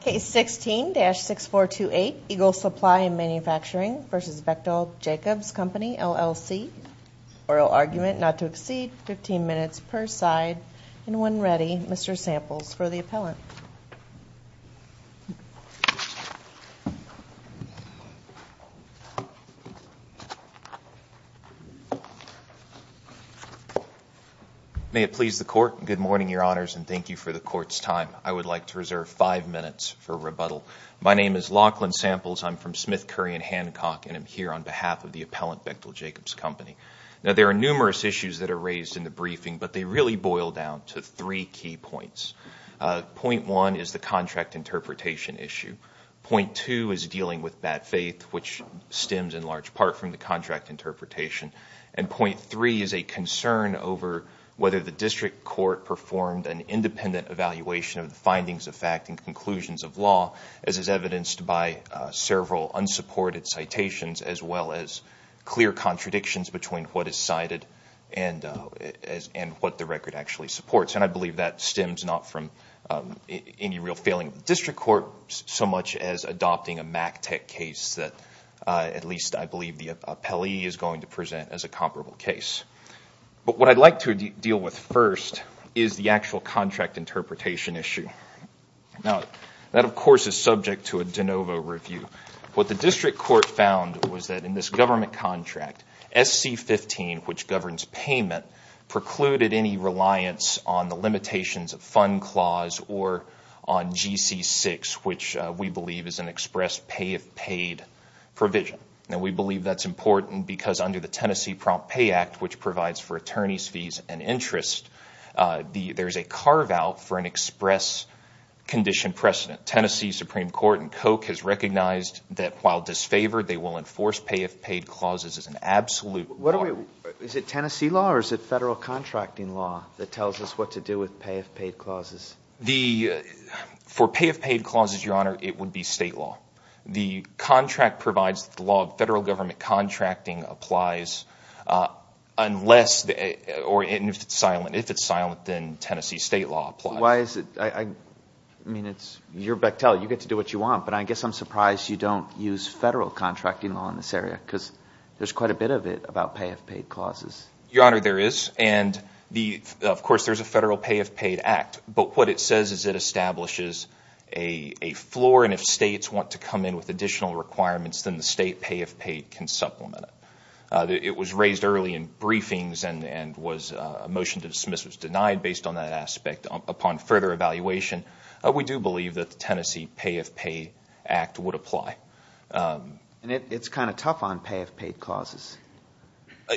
Case 16-6428 Eagle Supply and Manufacturing v. Bechtel Jacobs Company LLC Oral argument not to exceed 15 minutes per side and when ready Mr. Samples for the appellant May it please the court. Good morning, your honors, and thank you for the court's time. I would like to reserve five minutes for rebuttal. My name is Lachlan Samples. I'm from Smith, Curry & Hancock and I'm here on behalf of the appellant Bechtel Jacobs Company. Now there are numerous issues that are raised in the briefing, but they really boil down to three key points. Point one is the contract interpretation issue. Point two is dealing with bad faith, which stems in large part from the contract interpretation. And point three is a concern over whether the district court performed an independent evaluation of the findings of fact and conclusions of law as is evidenced by several unsupported citations as well as clear contradictions between what is cited and what the record actually supports. And I believe that stems not from any real failing of the district court so much as adopting a MACTEC case that at least I believe the appellee is going to present as a comparable case. But what I'd like to deal with first is the actual contract interpretation issue. Now that, of course, is subject to a de novo review. What the district court found was that in this government contract, SC15, which governs payment, precluded any reliance on the limitations of fund clause or on GC6, which we believe is an express pay-if-paid provision. Now we believe that's important because under the Tennessee Prompt Pay Act, which provides for attorney's fees and interest, there's a carve-out for an express condition precedent. Tennessee Supreme Court in Koch has recognized that while disfavored, they will enforce pay-if-paid clauses as an absolute norm. Is it Tennessee law or is it federal contracting law that tells us what to do with pay-if-paid clauses? For pay-if-paid clauses, Your Honor, it would be state law. The contract provides the law of federal government contracting applies unless or if it's silent. If it's silent, then Tennessee state law applies. Why is it? I mean, you're Bechtel. You get to do what you want. But I guess I'm surprised you don't use federal contracting law in this area because there's quite a bit of it about pay-if-paid clauses. Your Honor, there is, and, of course, there's a federal pay-if-paid act. But what it says is it establishes a floor, and if states want to come in with additional requirements, then the state pay-if-paid can supplement it. It was raised early in briefings and a motion to dismiss was denied based on that aspect. Upon further evaluation, we do believe that the Tennessee pay-if-paid act would apply. And it's kind of tough on pay-if-paid clauses,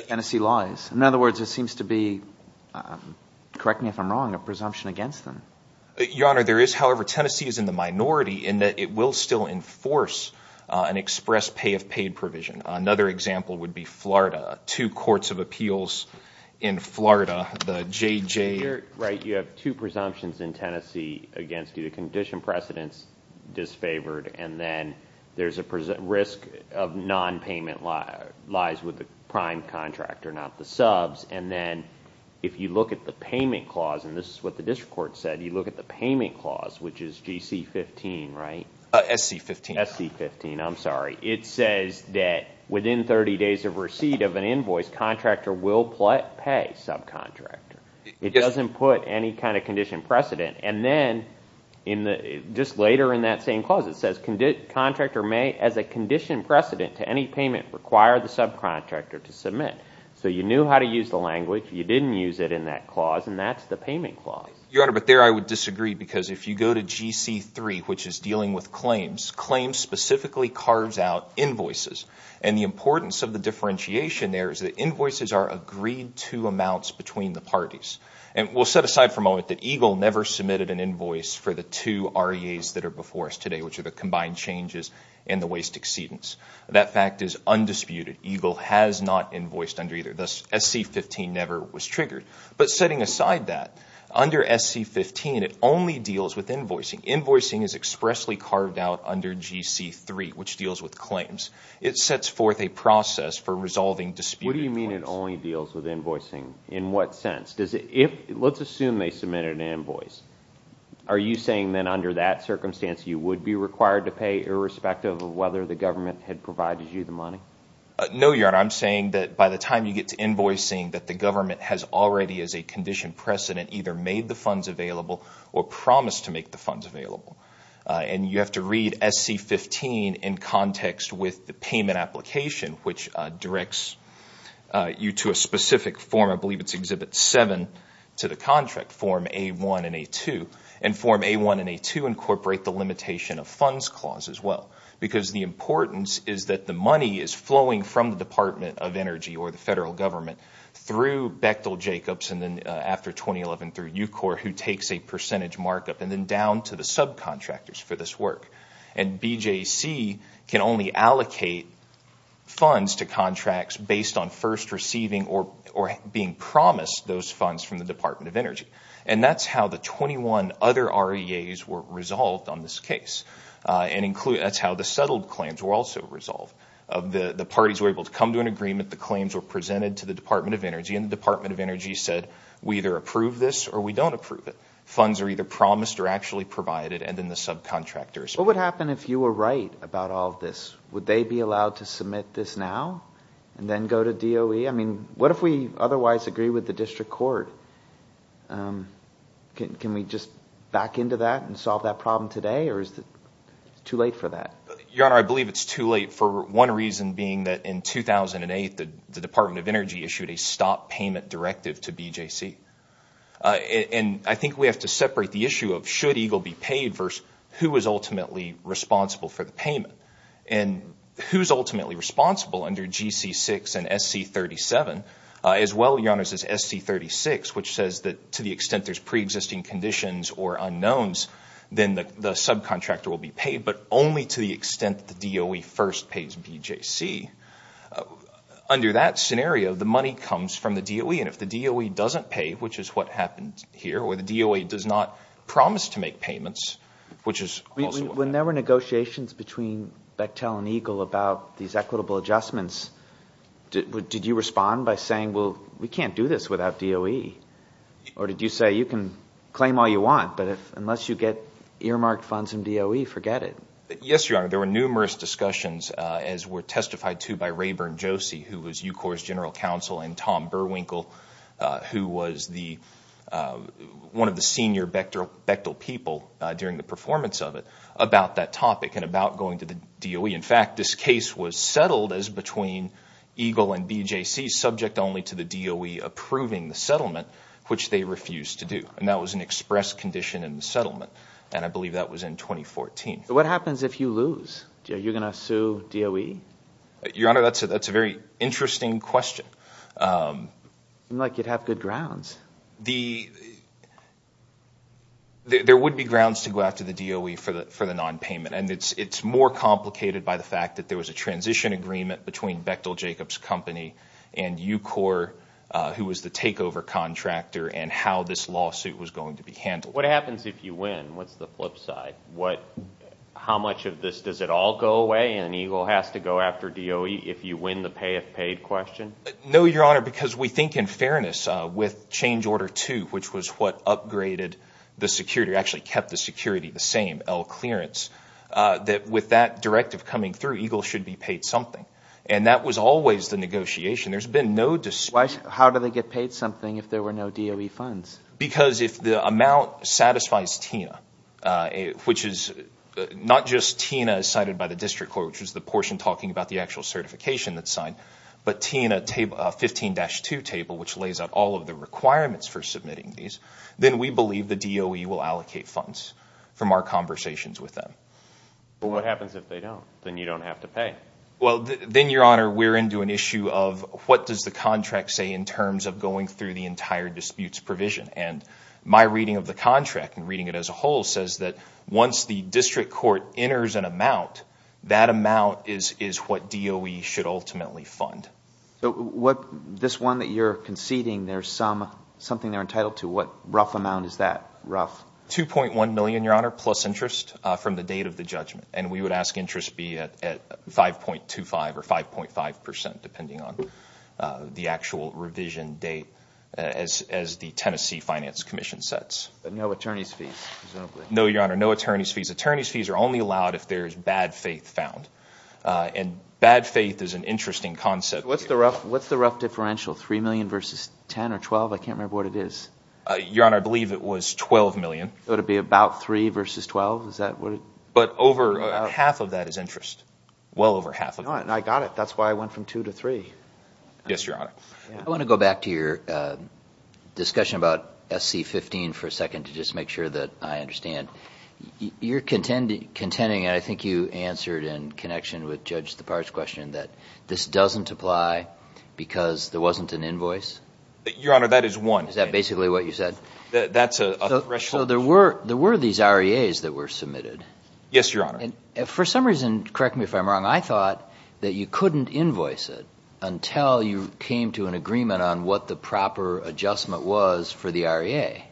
Tennessee laws. In other words, it seems to be, correct me if I'm wrong, a presumption against them. Your Honor, there is, however, Tennessee is in the minority in that it will still enforce an express pay-if-paid provision. Another example would be Florida, two courts of appeals in Florida, the JJ. Right, you have two presumptions in Tennessee against you, disfavored, and then there's a risk of nonpayment lies with the prime contractor, not the subs. And then if you look at the payment clause, and this is what the district court said, you look at the payment clause, which is GC 15, right? SC 15. SC 15, I'm sorry. It says that within 30 days of receipt of an invoice, contractor will pay subcontractor. It doesn't put any kind of condition precedent. And then, just later in that same clause, it says contractor may, as a condition precedent to any payment, require the subcontractor to submit. So you knew how to use the language. You didn't use it in that clause, and that's the payment clause. Your Honor, but there I would disagree, because if you go to GC 3, which is dealing with claims, claims specifically carves out invoices. And the importance of the differentiation there is that invoices are agreed-to amounts between the parties. And we'll set aside for a moment that EGLE never submitted an invoice for the two REAs that are before us today, which are the combined changes and the waste exceedance. That fact is undisputed. EGLE has not invoiced under either. Thus, SC 15 never was triggered. But setting aside that, under SC 15, it only deals with invoicing. Invoicing is expressly carved out under GC 3, which deals with claims. It sets forth a process for resolving disputed claims. What do you mean it only deals with invoicing? In what sense? Let's assume they submitted an invoice. Are you saying then under that circumstance you would be required to pay, irrespective of whether the government had provided you the money? No, Your Honor. I'm saying that by the time you get to invoicing, that the government has already, as a conditioned precedent, either made the funds available or promised to make the funds available. And you have to read SC 15 in context with the payment application, which directs you to a specific form. I believe it's Exhibit 7 to the contract, Form A-1 and A-2. And Form A-1 and A-2 incorporate the limitation of funds clause as well, because the importance is that the money is flowing from the Department of Energy or the federal government through Bechtel Jacobs and then after 2011 through UCOR, who takes a percentage markup, and then down to the subcontractors for this work. And BJC can only allocate funds to contracts based on first receiving or being promised those funds from the Department of Energy. And that's how the 21 other REAs were resolved on this case. That's how the settled claims were also resolved. The parties were able to come to an agreement. The claims were presented to the Department of Energy, and the Department of Energy said we either approve this or we don't approve it. Funds are either promised or actually provided, and then the subcontractors. What would happen if you were right about all of this? Would they be allowed to submit this now and then go to DOE? I mean, what if we otherwise agree with the district court? Can we just back into that and solve that problem today, or is it too late for that? Your Honor, I believe it's too late for one reason being that in 2008, the Department of Energy issued a stop payment directive to BJC. And I think we have to separate the issue of should EGLE be paid versus who is ultimately responsible for the payment. And who's ultimately responsible under GC6 and SC37, as well, Your Honor, as is SC36, which says that to the extent there's preexisting conditions or unknowns, then the subcontractor will be paid, but only to the extent the DOE first pays BJC. Under that scenario, the money comes from the DOE, and if the DOE doesn't pay, which is what happened here, or the DOE does not promise to make payments, which is also what happened. When there were negotiations between Bechtel and EGLE about these equitable adjustments, did you respond by saying, well, we can't do this without DOE? Or did you say, you can claim all you want, but unless you get earmarked funds from DOE, forget it? Yes, Your Honor. There were numerous discussions, as were testified to by Rayburn Josie, who was UCOR's general counsel, and Tom Berwinkle, who was one of the senior Bechtel people during the performance of it, about that topic and about going to the DOE. In fact, this case was settled as between EGLE and BJC, subject only to the DOE approving the settlement, which they refused to do. And that was an express condition in the settlement, and I believe that was in 2014. What happens if you lose? Are you going to sue DOE? Your Honor, that's a very interesting question. It doesn't seem like you'd have good grounds. There would be grounds to go after the DOE for the nonpayment, and it's more complicated by the fact that there was a transition agreement between Bechtel Jacobs Company and UCOR, who was the takeover contractor, and how this lawsuit was going to be handled. What happens if you win? What's the flip side? How much of this, does it all go away, and EGLE has to go after DOE if you win the pay if paid question? No, Your Honor, because we think in fairness with change order 2, which was what upgraded the security, actually kept the security the same, L clearance, that with that directive coming through, EGLE should be paid something. And that was always the negotiation. There's been no dispute. How do they get paid something if there were no DOE funds? Because if the amount satisfies TINA, which is not just TINA as cited by the district court, which is the portion talking about the actual certification that's signed, but TINA 15-2 table, which lays out all of the requirements for submitting these, then we believe the DOE will allocate funds from our conversations with them. But what happens if they don't? Then you don't have to pay. Well, then, Your Honor, we're into an issue of what does the contract say in terms of going through the entire disputes provision? And my reading of the contract and reading it as a whole says that once the district court enters an amount, that amount is what DOE should ultimately fund. So this one that you're conceding, there's something they're entitled to. What rough amount is that, rough? $2.1 million, Your Honor, plus interest from the date of the judgment. And we would ask interest be at 5.25 or 5.5 percent, depending on the actual revision date, as the Tennessee Finance Commission sets. But no attorney's fees? No, Your Honor, no attorney's fees. Attorney's fees are only allowed if there's bad faith found. And bad faith is an interesting concept. What's the rough differential, $3 million versus $10 million or $12 million? I can't remember what it is. Your Honor, I believe it was $12 million. Would it be about $3 million versus $12 million? But over half of that is interest, well over half of it. I got it. That's why I went from 2 to 3. Yes, Your Honor. I want to go back to your discussion about SC15 for a second to just make sure that I understand. You're contending, and I think you answered in connection with Judge Tappar's question, that this doesn't apply because there wasn't an invoice? Your Honor, that is one. Is that basically what you said? That's a threshold. So there were these REAs that were submitted. Yes, Your Honor. For some reason, correct me if I'm wrong, I thought that you couldn't invoice it until you came to an agreement on what the proper adjustment was for the REA.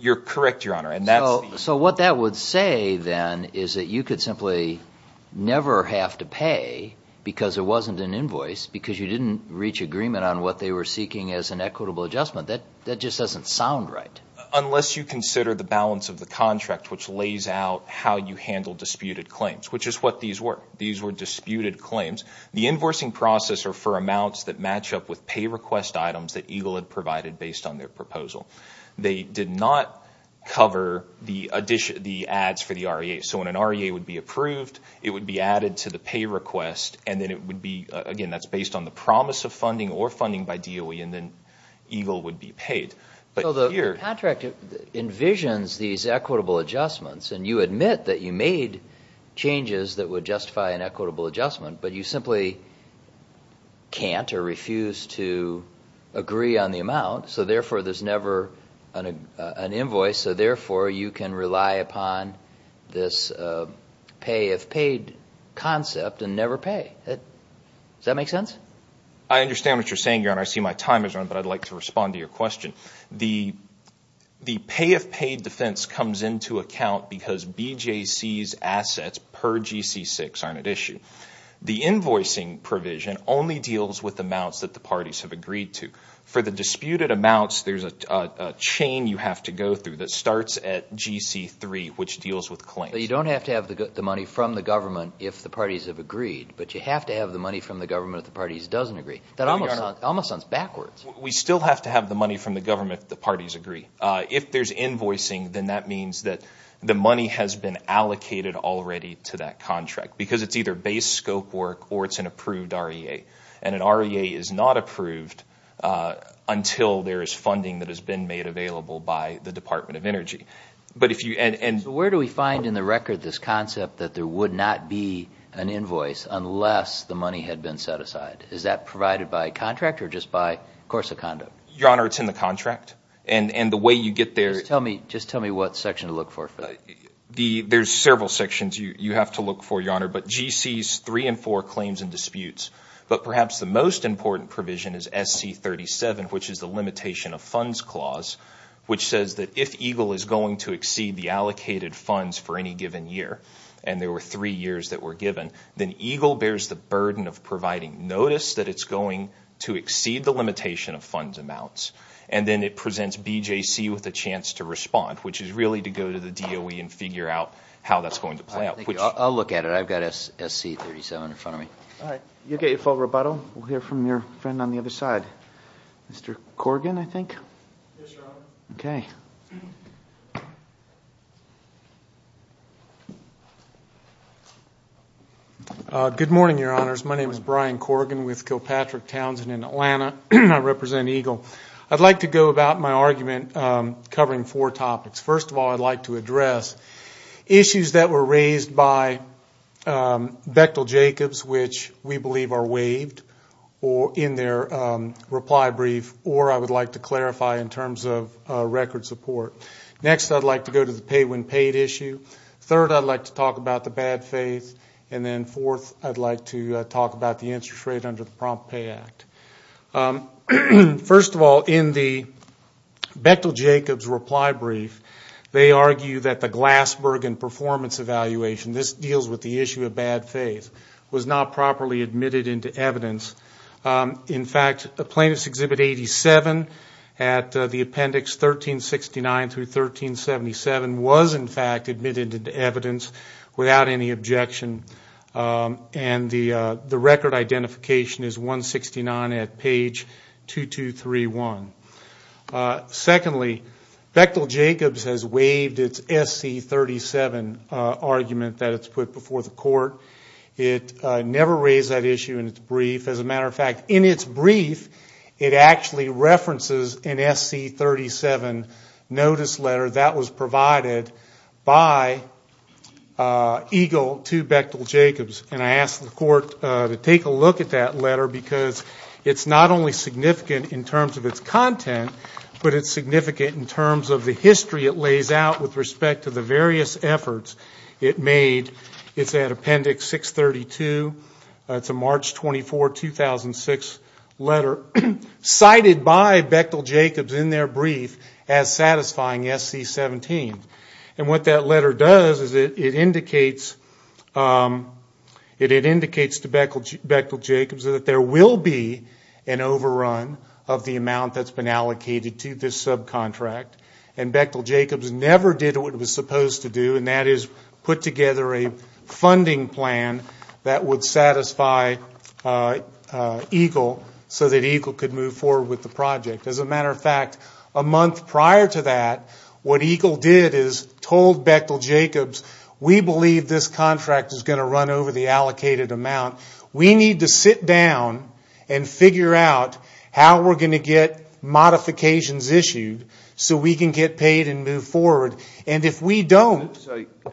You're correct, Your Honor. So what that would say then is that you could simply never have to pay because there wasn't an invoice because you didn't reach agreement on what they were seeking as an equitable adjustment. That just doesn't sound right. Unless you consider the balance of the contract, which lays out how you handle disputed claims, which is what these were. These were disputed claims. The invoicing process are for amounts that match up with pay request items that EGLE had provided based on their proposal. They did not cover the ads for the REA. So when an REA would be approved, it would be added to the pay request, and then it would be, again, that's based on the promise of funding or funding by DOE, and then EGLE would be paid. So the contract envisions these equitable adjustments, and you admit that you made changes that would justify an equitable adjustment, but you simply can't or refuse to agree on the amount. So, therefore, there's never an invoice. So, therefore, you can rely upon this pay if paid concept and never pay. Does that make sense? I understand what you're saying, Your Honor. I see my time has run, but I'd like to respond to your question. The pay if paid defense comes into account because BJC's assets per GC6 aren't at issue. The invoicing provision only deals with amounts that the parties have agreed to. For the disputed amounts, there's a chain you have to go through that starts at GC3, which deals with claims. But you don't have to have the money from the government if the parties have agreed, but you have to have the money from the government if the parties doesn't agree. That almost sounds backwards. We still have to have the money from the government if the parties agree. If there's invoicing, then that means that the money has been allocated already to that contract because it's either base scope work or it's an approved REA. And an REA is not approved until there is funding that has been made available by the Department of Energy. So where do we find in the record this concept that there would not be an invoice unless the money had been set aside? Is that provided by contract or just by course of conduct? Your Honor, it's in the contract. And the way you get there— Just tell me what section to look for. There's several sections you have to look for, Your Honor, but GC's three and four claims and disputes. But perhaps the most important provision is SC37, which is the limitation of funds clause, which says that if EGLE is going to exceed the allocated funds for any given year, and there were three years that were given, then EGLE bears the burden of providing notice that it's going to exceed the limitation of funds amounts. And then it presents BJC with a chance to respond, which is really to go to the DOE and figure out how that's going to play out. I'll look at it. I've got SC37 in front of me. All right. You'll get your full rebuttal. We'll hear from your friend on the other side. Mr. Corrigan, I think? Yes, Your Honor. Okay. Good morning, Your Honors. My name is Brian Corrigan with Kilpatrick Townsend in Atlanta. I represent EGLE. I'd like to go about my argument covering four topics. First of all, I'd like to address issues that were raised by Bechtel Jacobs, which we believe are waived in their reply brief, or I would like to clarify in terms of record support. Next, I'd like to go to the pay when paid issue. Third, I'd like to talk about the bad faith. And then fourth, I'd like to talk about the interest rate under the Prompt Pay Act. First of all, in the Bechtel Jacobs reply brief, they argue that the Glassberg and performance evaluation, this deals with the issue of bad faith, was not properly admitted into evidence. In fact, Plaintiff's Exhibit 87 at the appendix 1369 through 1377 was in fact admitted into evidence without any objection. And the record identification is 169 at page 2231. Secondly, Bechtel Jacobs has waived its SC-37 argument that it's put before the court. It never raised that issue in its brief. As a matter of fact, in its brief, it actually references an SC-37 notice letter that was provided by Eagle to Bechtel Jacobs. And I asked the court to take a look at that letter because it's not only significant in terms of its content, but it's significant in terms of the history it lays out with respect to the various efforts it made. It's at appendix 632. It's a March 24, 2006 letter cited by Bechtel Jacobs in their brief as satisfying SC-17. And what that letter does is it indicates to Bechtel Jacobs that there will be an overrun of the amount that's been allocated to this subcontract. And Bechtel Jacobs never did what it was supposed to do, and that is put together a funding plan that would satisfy Eagle so that Eagle could move forward with the project. As a matter of fact, a month prior to that, what Eagle did is told Bechtel Jacobs, we believe this contract is going to run over the allocated amount. We need to sit down and figure out how we're going to get modifications issued so we can get paid and move forward. And if we don't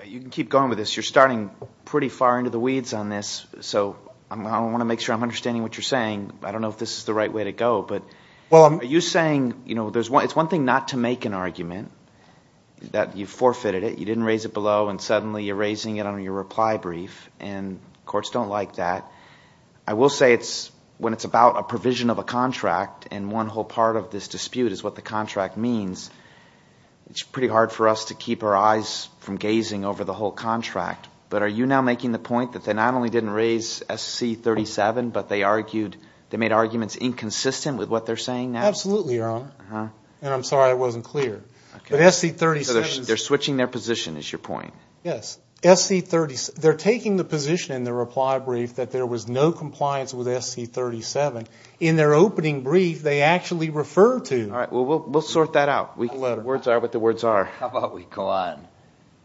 you can keep going with this. You're starting pretty far into the weeds on this. So I want to make sure I'm understanding what you're saying. I don't know if this is the right way to go. But are you saying – it's one thing not to make an argument that you forfeited it. You didn't raise it below and suddenly you're raising it under your reply brief, and courts don't like that. I will say it's – when it's about a provision of a contract and one whole part of this dispute is what the contract means, it's pretty hard for us to keep our eyes from gazing over the whole contract. But are you now making the point that they not only didn't raise SC-37, but they argued – they made arguments inconsistent with what they're saying now? Absolutely, Your Honor. And I'm sorry I wasn't clear. But SC-37 – They're switching their position is your point. Yes. SC-37 – they're taking the position in their reply brief that there was no compliance with SC-37. In their opening brief they actually refer to – All right. Well, we'll sort that out. Words are what the words are. How about we go on?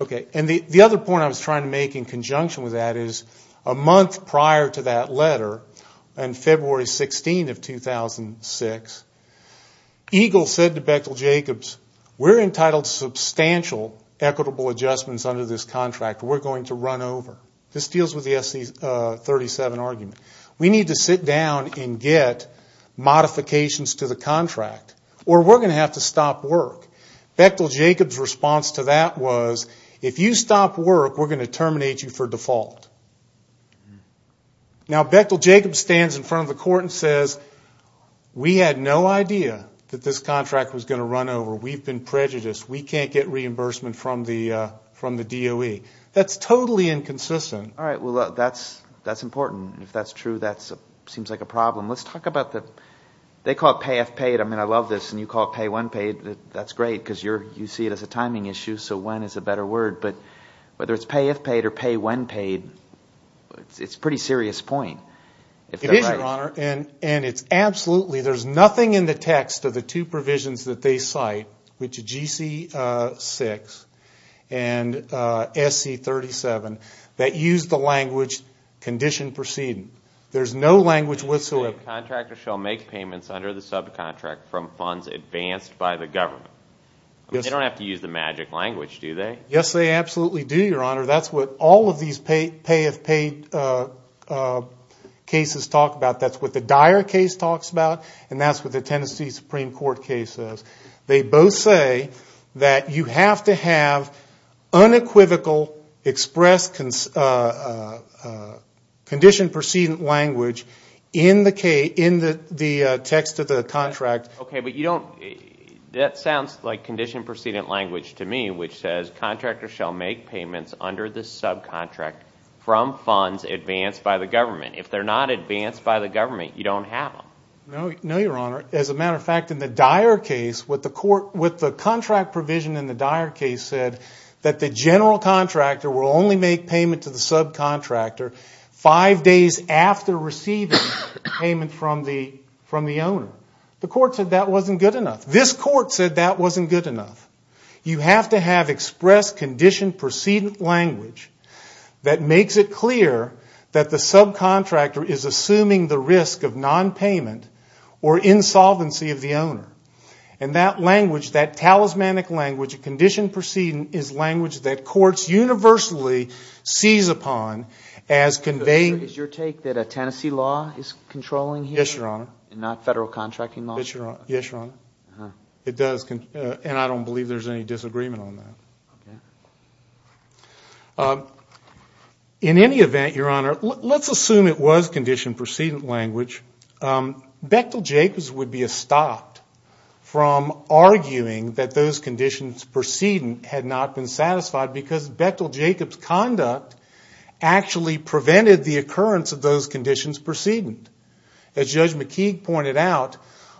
Okay. And the other point I was trying to make in conjunction with that is a month prior to that letter, on February 16th of 2006, EGLE said to Bechtel-Jacobs, we're entitled to substantial equitable adjustments under this contract. We're going to run over. This deals with the SC-37 argument. We need to sit down and get modifications to the contract or we're going to have to stop work. Bechtel-Jacobs' response to that was, if you stop work, we're going to terminate you for default. Now, Bechtel-Jacobs stands in front of the court and says, we had no idea that this contract was going to run over. We've been prejudiced. We can't get reimbursement from the DOE. That's totally inconsistent. All right. Well, that's important. If that's true, that seems like a problem. Let's talk about the – they call it pay if paid. I mean, I love this. And you call it pay when paid. That's great because you see it as a timing issue, so when is a better word. But whether it's pay if paid or pay when paid, it's a pretty serious point. It is, Your Honor, and it's absolutely – there's nothing in the text of the two provisions that they cite, which are GC-6 and SC-37, that use the language condition proceeding. There's no language whatsoever. The subcontractor shall make payments under the subcontract from funds advanced by the government. They don't have to use the magic language, do they? Yes, they absolutely do, Your Honor. That's what all of these pay if paid cases talk about. That's what the Dyer case talks about, and that's what the Tennessee Supreme Court case says. They both say that you have to have unequivocal express condition proceeding language in the text of the contract. Okay, but you don't – that sounds like condition proceeding language to me, which says contractors shall make payments under the subcontract from funds advanced by the government. If they're not advanced by the government, you don't have them. No, Your Honor. As a matter of fact, in the Dyer case, what the contract provision in the Dyer case said, that the general contractor will only make payment to the subcontractor five days after receiving payment from the owner. The court said that wasn't good enough. This court said that wasn't good enough. You have to have express condition proceeding language that makes it clear that the subcontractor is assuming the risk of nonpayment or insolvency of the owner. And that language, that talismanic language, condition proceeding, is language that courts universally seize upon as conveying. Is your take that Tennessee law is controlling here? Yes, Your Honor. And not federal contracting law? Yes, Your Honor. It does, and I don't believe there's any disagreement on that. Okay. In any event, Your Honor, let's assume it was condition proceeding language. Bechtel-Jacobs would be stopped from arguing that those conditions proceeding had not been satisfied because Bechtel-Jacobs' conduct actually prevented the occurrence of those conditions proceeding. As Judge McKeague pointed out,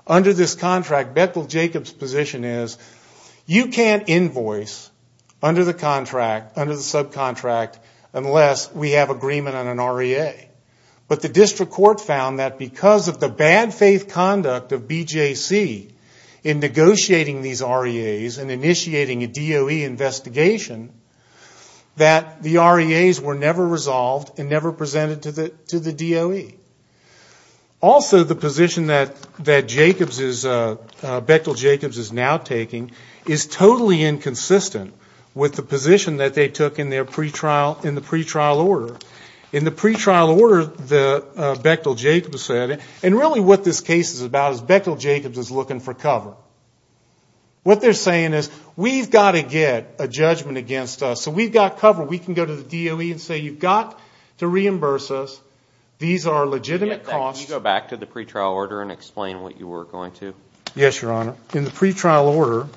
under this contract, Bechtel-Jacobs' position is, you can't invoice under the contract, under the subcontract, unless we have agreement on an REA. But the district court found that because of the bad faith conduct of BJC in negotiating these REAs and initiating a DOE investigation, that the REAs were never resolved and never presented to the DOE. Also, the position that Bechtel-Jacobs is now taking is totally inconsistent with the position that they took in the pretrial order. In the pretrial order, Bechtel-Jacobs said, and really what this case is about is Bechtel-Jacobs is looking for cover. What they're saying is, we've got to get a judgment against us, so we've got cover. We can go to the DOE and say, you've got to reimburse us. These are legitimate costs. Can you go back to the pretrial order and explain what you were going to? Yes, Your Honor. In the pretrial order,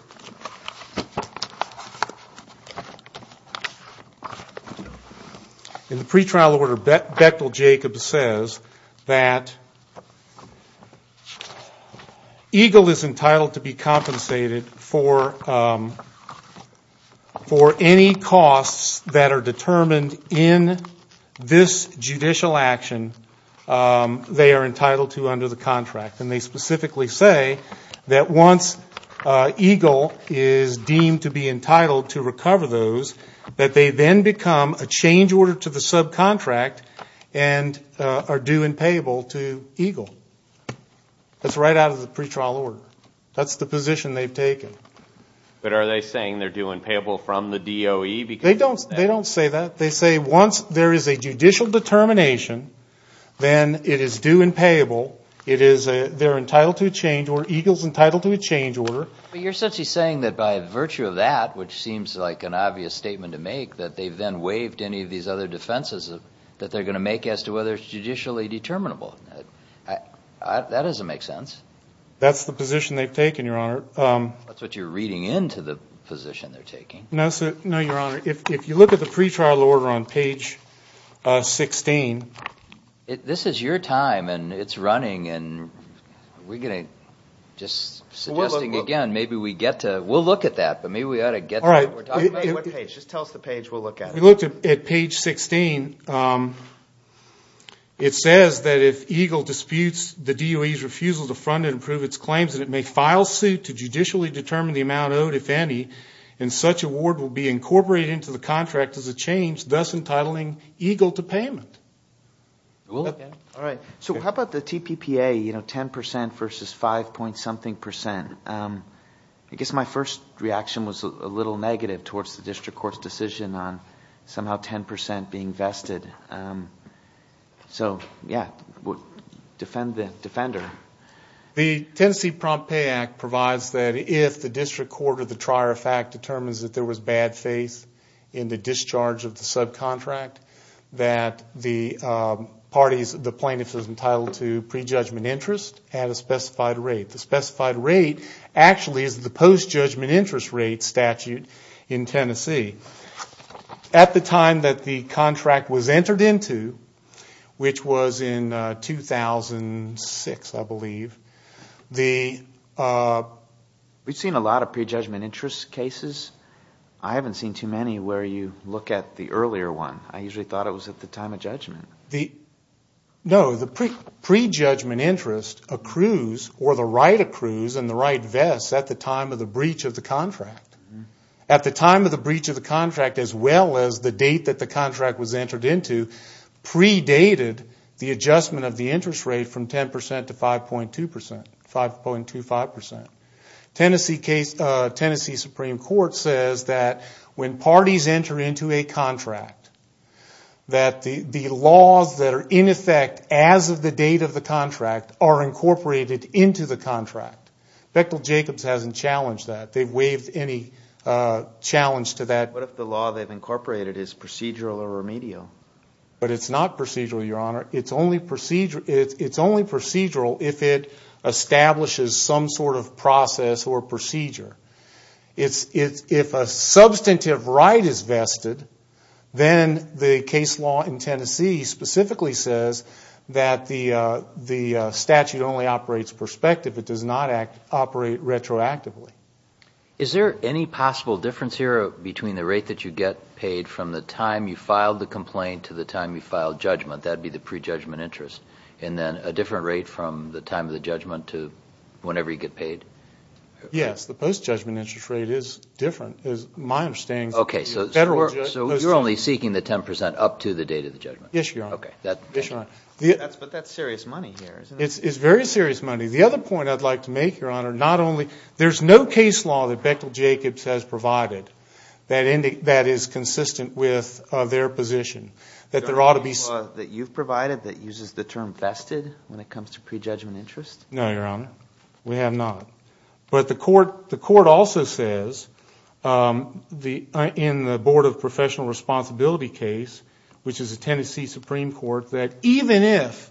Bechtel-Jacobs says that EGLE is entitled to be compensated for any costs that are determined in this judicial action they are entitled to under the contract. And they specifically say that once EGLE is deemed to be entitled to recover those, that they then become a change order to the subcontract and are due and payable to EGLE. That's right out of the pretrial order. That's the position they've taken. But are they saying they're due and payable from the DOE? They don't say that. They say once there is a judicial determination, then it is due and payable. They're entitled to a change order. EGLE's entitled to a change order. But you're essentially saying that by virtue of that, which seems like an obvious statement to make, that they've then waived any of these other defenses that they're going to make as to whether it's judicially determinable. That doesn't make sense. That's the position they've taken, Your Honor. That's what you're reading into the position they're taking. No, Your Honor. If you look at the pretrial order on page 16. This is your time and it's running. And we're going to just suggesting again maybe we get to, we'll look at that. But maybe we ought to get to what we're talking about. Just tell us the page we'll look at. We looked at page 16. It says that if EGLE disputes the DOE's refusal to fund and approve its claims, that it may file suit to judicially determine the amount owed, if any, and such award will be incorporated into the contract as a change, thus entitling EGLE to payment. All right. So how about the TPPA, you know, 10% versus 5 point something percent? I guess my first reaction was a little negative towards the district court's decision on somehow 10% being vested. So, yeah, defend the defender. The Tennessee Prompt Pay Act provides that if the district court or the trier of fact determines that there was bad faith in the discharge of the subcontract, that the parties, the plaintiff is entitled to prejudgment interest at a specified rate. The specified rate actually is the post-judgment interest rate statute in Tennessee. At the time that the contract was entered into, which was in 2006, I believe, the ‑‑ We've seen a lot of prejudgment interest cases. I haven't seen too many where you look at the earlier one. I usually thought it was at the time of judgment. No, the prejudgment interest accrues or the right accrues in the right vest at the time of the breach of the contract. At the time of the breach of the contract as well as the date that the contract was entered into, predated the adjustment of the interest rate from 10% to 5.25%. Tennessee Supreme Court says that when parties enter into a contract, that the laws that are in effect as of the date of the contract are incorporated into the contract. Bechtel Jacobs hasn't challenged that. They've waived any challenge to that. What if the law they've incorporated is procedural or remedial? But it's not procedural, Your Honor. It's only procedural if it establishes some sort of process or procedure. If a substantive right is vested, then the case law in Tennessee specifically says that the statute only operates prospective. It does not operate retroactively. Is there any possible difference here between the rate that you get paid from the time you filed the complaint to the time you filed judgment? That would be the prejudgment interest. And then a different rate from the time of the judgment to whenever you get paid? Yes, the post-judgment interest rate is different, is my understanding. Okay, so you're only seeking the 10% up to the date of the judgment. Yes, Your Honor. Okay. But that's serious money here, isn't it? It's very serious money. The other point I'd like to make, Your Honor, not only – there's no case law that Bechtel Jacobs has provided that is consistent with their position. That there ought to be – Is there any law that you've provided that uses the term vested when it comes to prejudgment interest? No, Your Honor. We have not. But the court also says in the Board of Professional Responsibility case, which is a Tennessee Supreme Court, that even if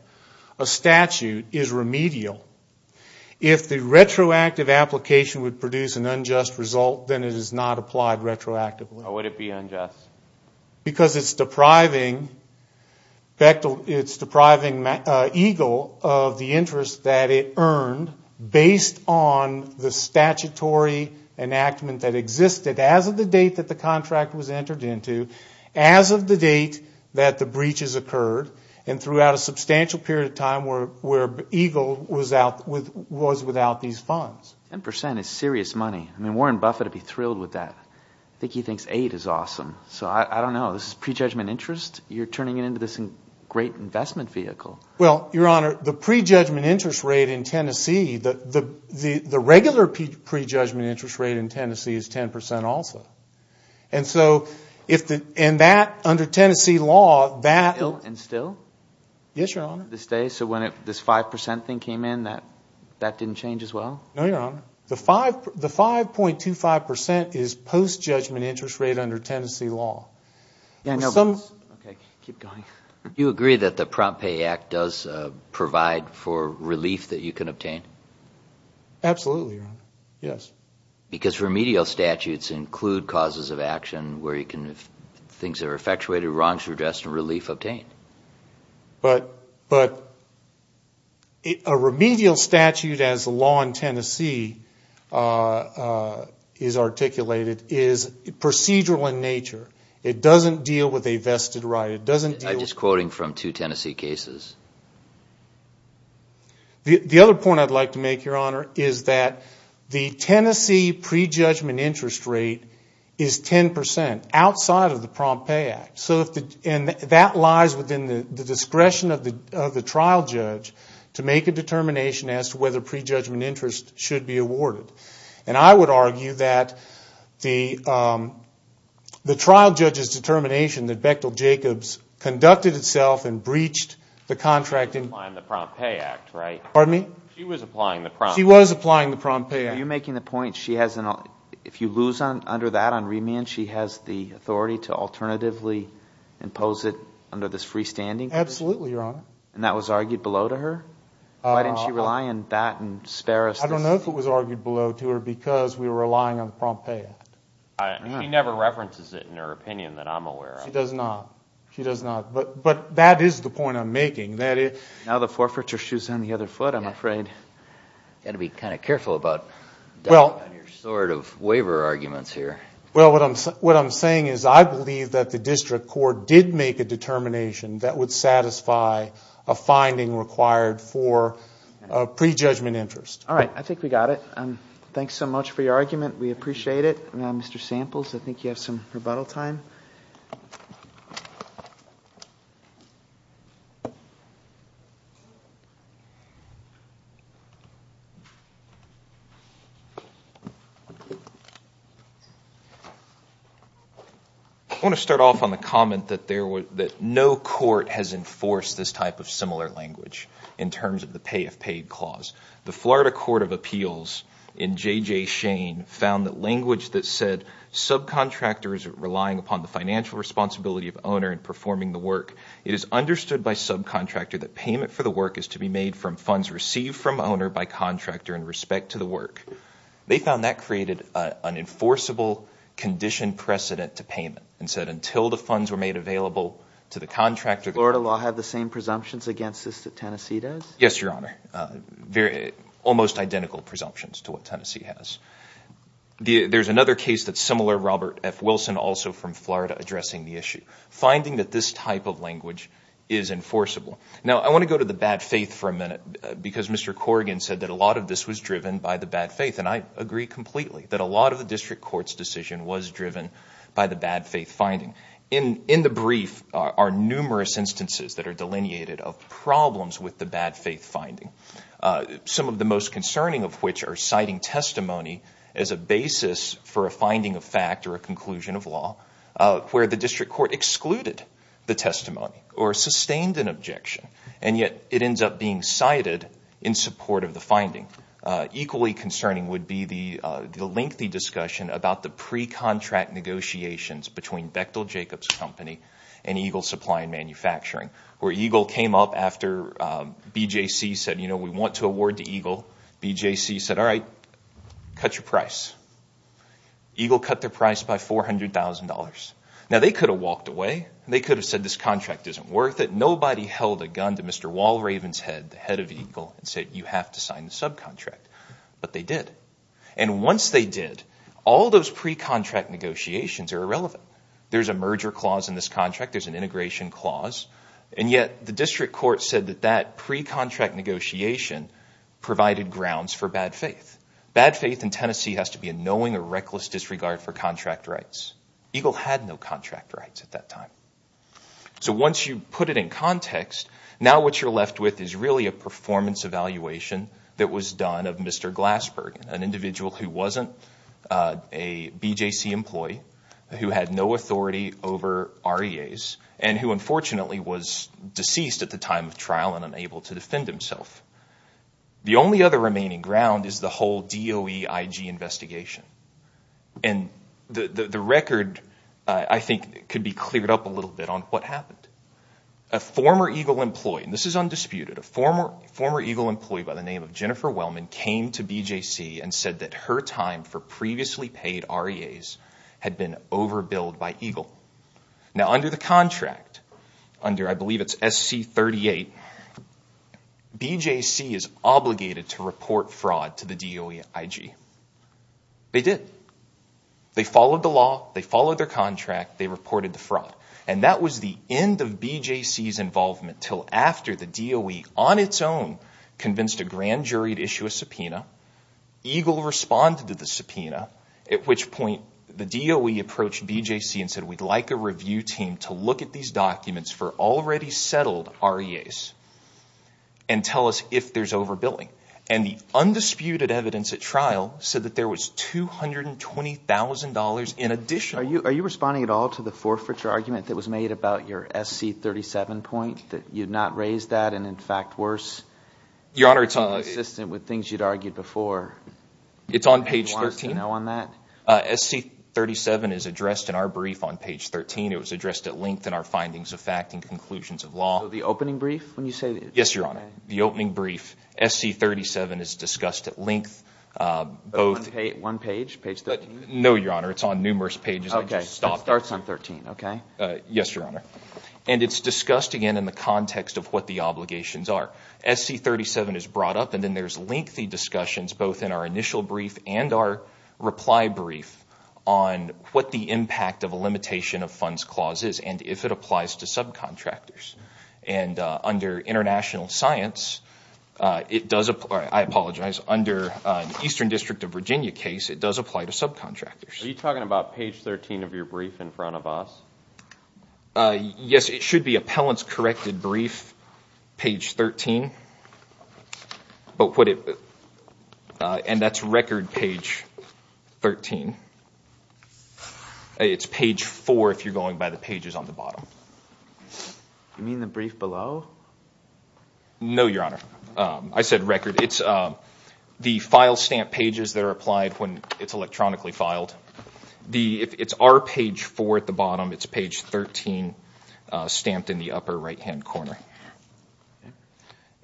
a statute is remedial, if the retroactive application would produce an unjust result, then it is not applied retroactively. How would it be unjust? Because it's depriving Bechtel – it's depriving EGLE of the interest that it earned based on the statutory enactment that existed as of the date that the contract was entered into, as of the date that the breaches occurred, and throughout a substantial period of time where EGLE was without these funds. Ten percent is serious money. I mean, Warren Buffett would be thrilled with that. I think he thinks eight is awesome. So I don't know. This is prejudgment interest? You're turning it into this great investment vehicle. Well, Your Honor, the prejudgment interest rate in Tennessee – the regular prejudgment interest rate in Tennessee is ten percent also. And so in that, under Tennessee law, that – Still? Yes, Your Honor. To this day? So when this five percent thing came in, that didn't change as well? No, Your Honor. The 5.25 percent is post-judgment interest rate under Tennessee law. Okay, keep going. Do you agree that the Prompt Pay Act does provide for relief that you can obtain? Absolutely, Your Honor. Yes. Because remedial statutes include causes of action where you can – if things are effectuated, wrongs are addressed, and relief obtained. But a remedial statute, as the law in Tennessee is articulated, is procedural in nature. It doesn't deal with a vested right. It doesn't deal with – I'm just quoting from two Tennessee cases. The other point I'd like to make, Your Honor, is that the Tennessee prejudgment interest rate is ten percent outside of the Prompt Pay Act. So if the – and that lies within the discretion of the trial judge to make a determination as to whether prejudgment interest should be awarded. And I would argue that the trial judge's determination that Bechtel-Jacobs conducted itself and breached the contract in – Applying the Prompt Pay Act, right? Pardon me? She was applying the Prompt Pay Act. She was applying the Prompt Pay Act. Are you making the point she has – if you lose under that on remand, she has the authority to alternatively impose it under this freestanding? Absolutely, Your Honor. And that was argued below to her? Why didn't she rely on that and spare us – I don't know if it was argued below to her because we were relying on the Prompt Pay Act. She never references it in her opinion that I'm aware of. She does not. She does not. But that is the point I'm making. Now the forfeiture shoes on the other foot, I'm afraid. You've got to be kind of careful about your sort of waiver arguments here. Well, what I'm saying is I believe that the district court did make a determination that would satisfy a finding required for prejudgment interest. All right. I think we got it. Thanks so much for your argument. We appreciate it. Mr. Samples, I think you have some rebuttal time. Thank you. I want to start off on the comment that no court has enforced this type of similar language in terms of the pay if paid clause. The Florida Court of Appeals in J.J. Shane found that language that said subcontractor is relying upon the financial responsibility of owner in performing the work. It is understood by subcontractor that payment for the work is to be made from funds received from owner by contractor in respect to the work. They found that created an enforceable condition precedent to payment and said until the funds were made available to the contractor. Does Florida law have the same presumptions against this that Tennessee does? Yes, Your Honor. Almost identical presumptions to what Tennessee has. There's another case that's similar, Robert F. Wilson, also from Florida, addressing the issue. Finding that this type of language is enforceable. Now, I want to go to the bad faith for a minute because Mr. Corrigan said that a lot of this was driven by the bad faith, and I agree completely that a lot of the district court's decision was driven by the bad faith finding. In the brief are numerous instances that are delineated of problems with the bad faith finding, some of the most concerning of which are citing testimony as a basis for a finding of fact or a conclusion of law where the district court excluded the testimony or sustained an objection, and yet it ends up being cited in support of the finding. Equally concerning would be the lengthy discussion about the pre-contract negotiations between Bechtel Jacobs Company and Eagle Supply and Manufacturing, where Eagle came up after BJC said, you know, we want to award to Eagle. BJC said, all right, cut your price. Eagle cut their price by $400,000. Now, they could have walked away. They could have said this contract isn't worth it. Nobody held a gun to Mr. Walraven's head, the head of Eagle, and said you have to sign the subcontract. But they did. And once they did, all those pre-contract negotiations are irrelevant. There's a merger clause in this contract. There's an integration clause. And yet the district court said that that pre-contract negotiation provided grounds for bad faith. Bad faith in Tennessee has to be a knowing or reckless disregard for contract rights. Eagle had no contract rights at that time. So once you put it in context, now what you're left with is really a performance evaluation that was done of Mr. Glassberg, an individual who wasn't a BJC employee, who had no authority over REAs, and who unfortunately was deceased at the time of trial and unable to defend himself. The only other remaining ground is the whole DOE IG investigation. And the record, I think, could be cleared up a little bit on what happened. A former Eagle employee, and this is undisputed, a former Eagle employee by the name of Jennifer Wellman came to BJC and said that her time for previously paid REAs had been overbilled by Eagle. Now under the contract, under I believe it's SC38, BJC is obligated to report fraud to the DOE IG. They did. They followed the law. They followed their contract. They reported the fraud. And that was the end of BJC's involvement until after the DOE on its own convinced a grand jury to issue a subpoena. Eagle responded to the subpoena, at which point the DOE approached BJC and said, we'd like a review team to look at these documents for already settled REAs and tell us if there's overbilling. And the undisputed evidence at trial said that there was $220,000 in additional. Are you responding at all to the forfeiture argument that was made about your SC37 point, that you've not raised that and, in fact, worse consistent with things you'd argued before? It's on page 13. Do you want us to know on that? SC37 is addressed in our brief on page 13. It was addressed at length in our findings of fact and conclusions of law. So the opening brief when you say this? Yes, Your Honor. The opening brief. SC37 is discussed at length. One page? Page 13? No, Your Honor. It's on numerous pages. OK. It starts on 13, OK? Yes, Your Honor. And it's discussed, again, in the context of what the obligations are. SC37 is brought up, and then there's lengthy discussions, both in our initial brief and our reply brief, on what the impact of a limitation of funds clause is and if it applies to subcontractors. And under international science, it does apply—I apologize. Under the Eastern District of Virginia case, it does apply to subcontractors. Are you talking about page 13 of your brief in front of us? Yes, it should be appellant's corrected brief, page 13. And that's record page 13. It's page 4 if you're going by the pages on the bottom. You mean the brief below? No, Your Honor. I said record. It's the file stamp pages that are applied when it's electronically filed. It's our page 4 at the bottom. It's page 13 stamped in the upper right-hand corner.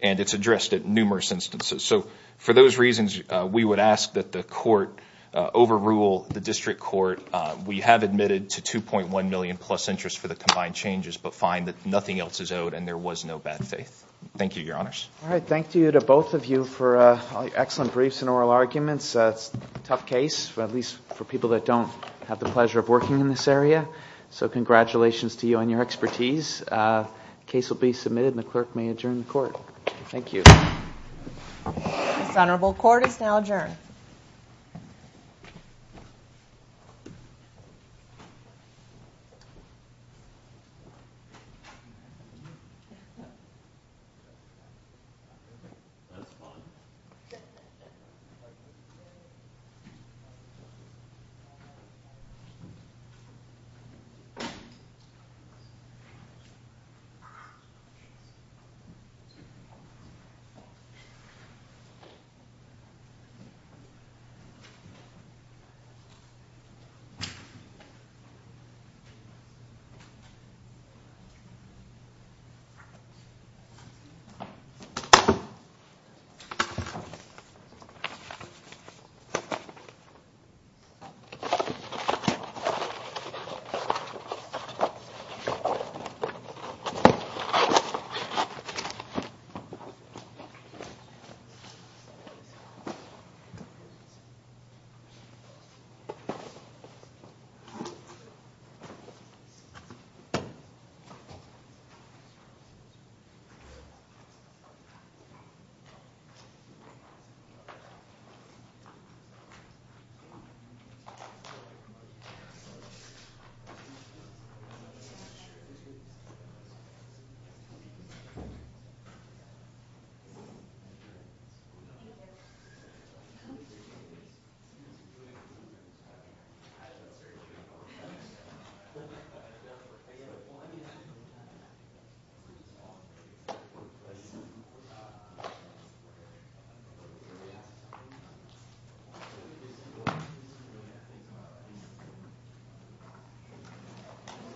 And it's addressed at numerous instances. So for those reasons, we would ask that the court overrule the district court. We have admitted to $2.1 million plus interest for the combined changes, but find that nothing else is owed and there was no bad faith. Thank you, Your Honors. All right. Thank you to both of you for excellent briefs and oral arguments. It's a tough case, at least for people that don't have the pleasure of working in this area. So congratulations to you on your expertise. The case will be submitted and the clerk may adjourn the court. Thank you. This honorable court is now adjourned. Thank you. Thank you. Thank you. Thank you. Thank you. Thank you.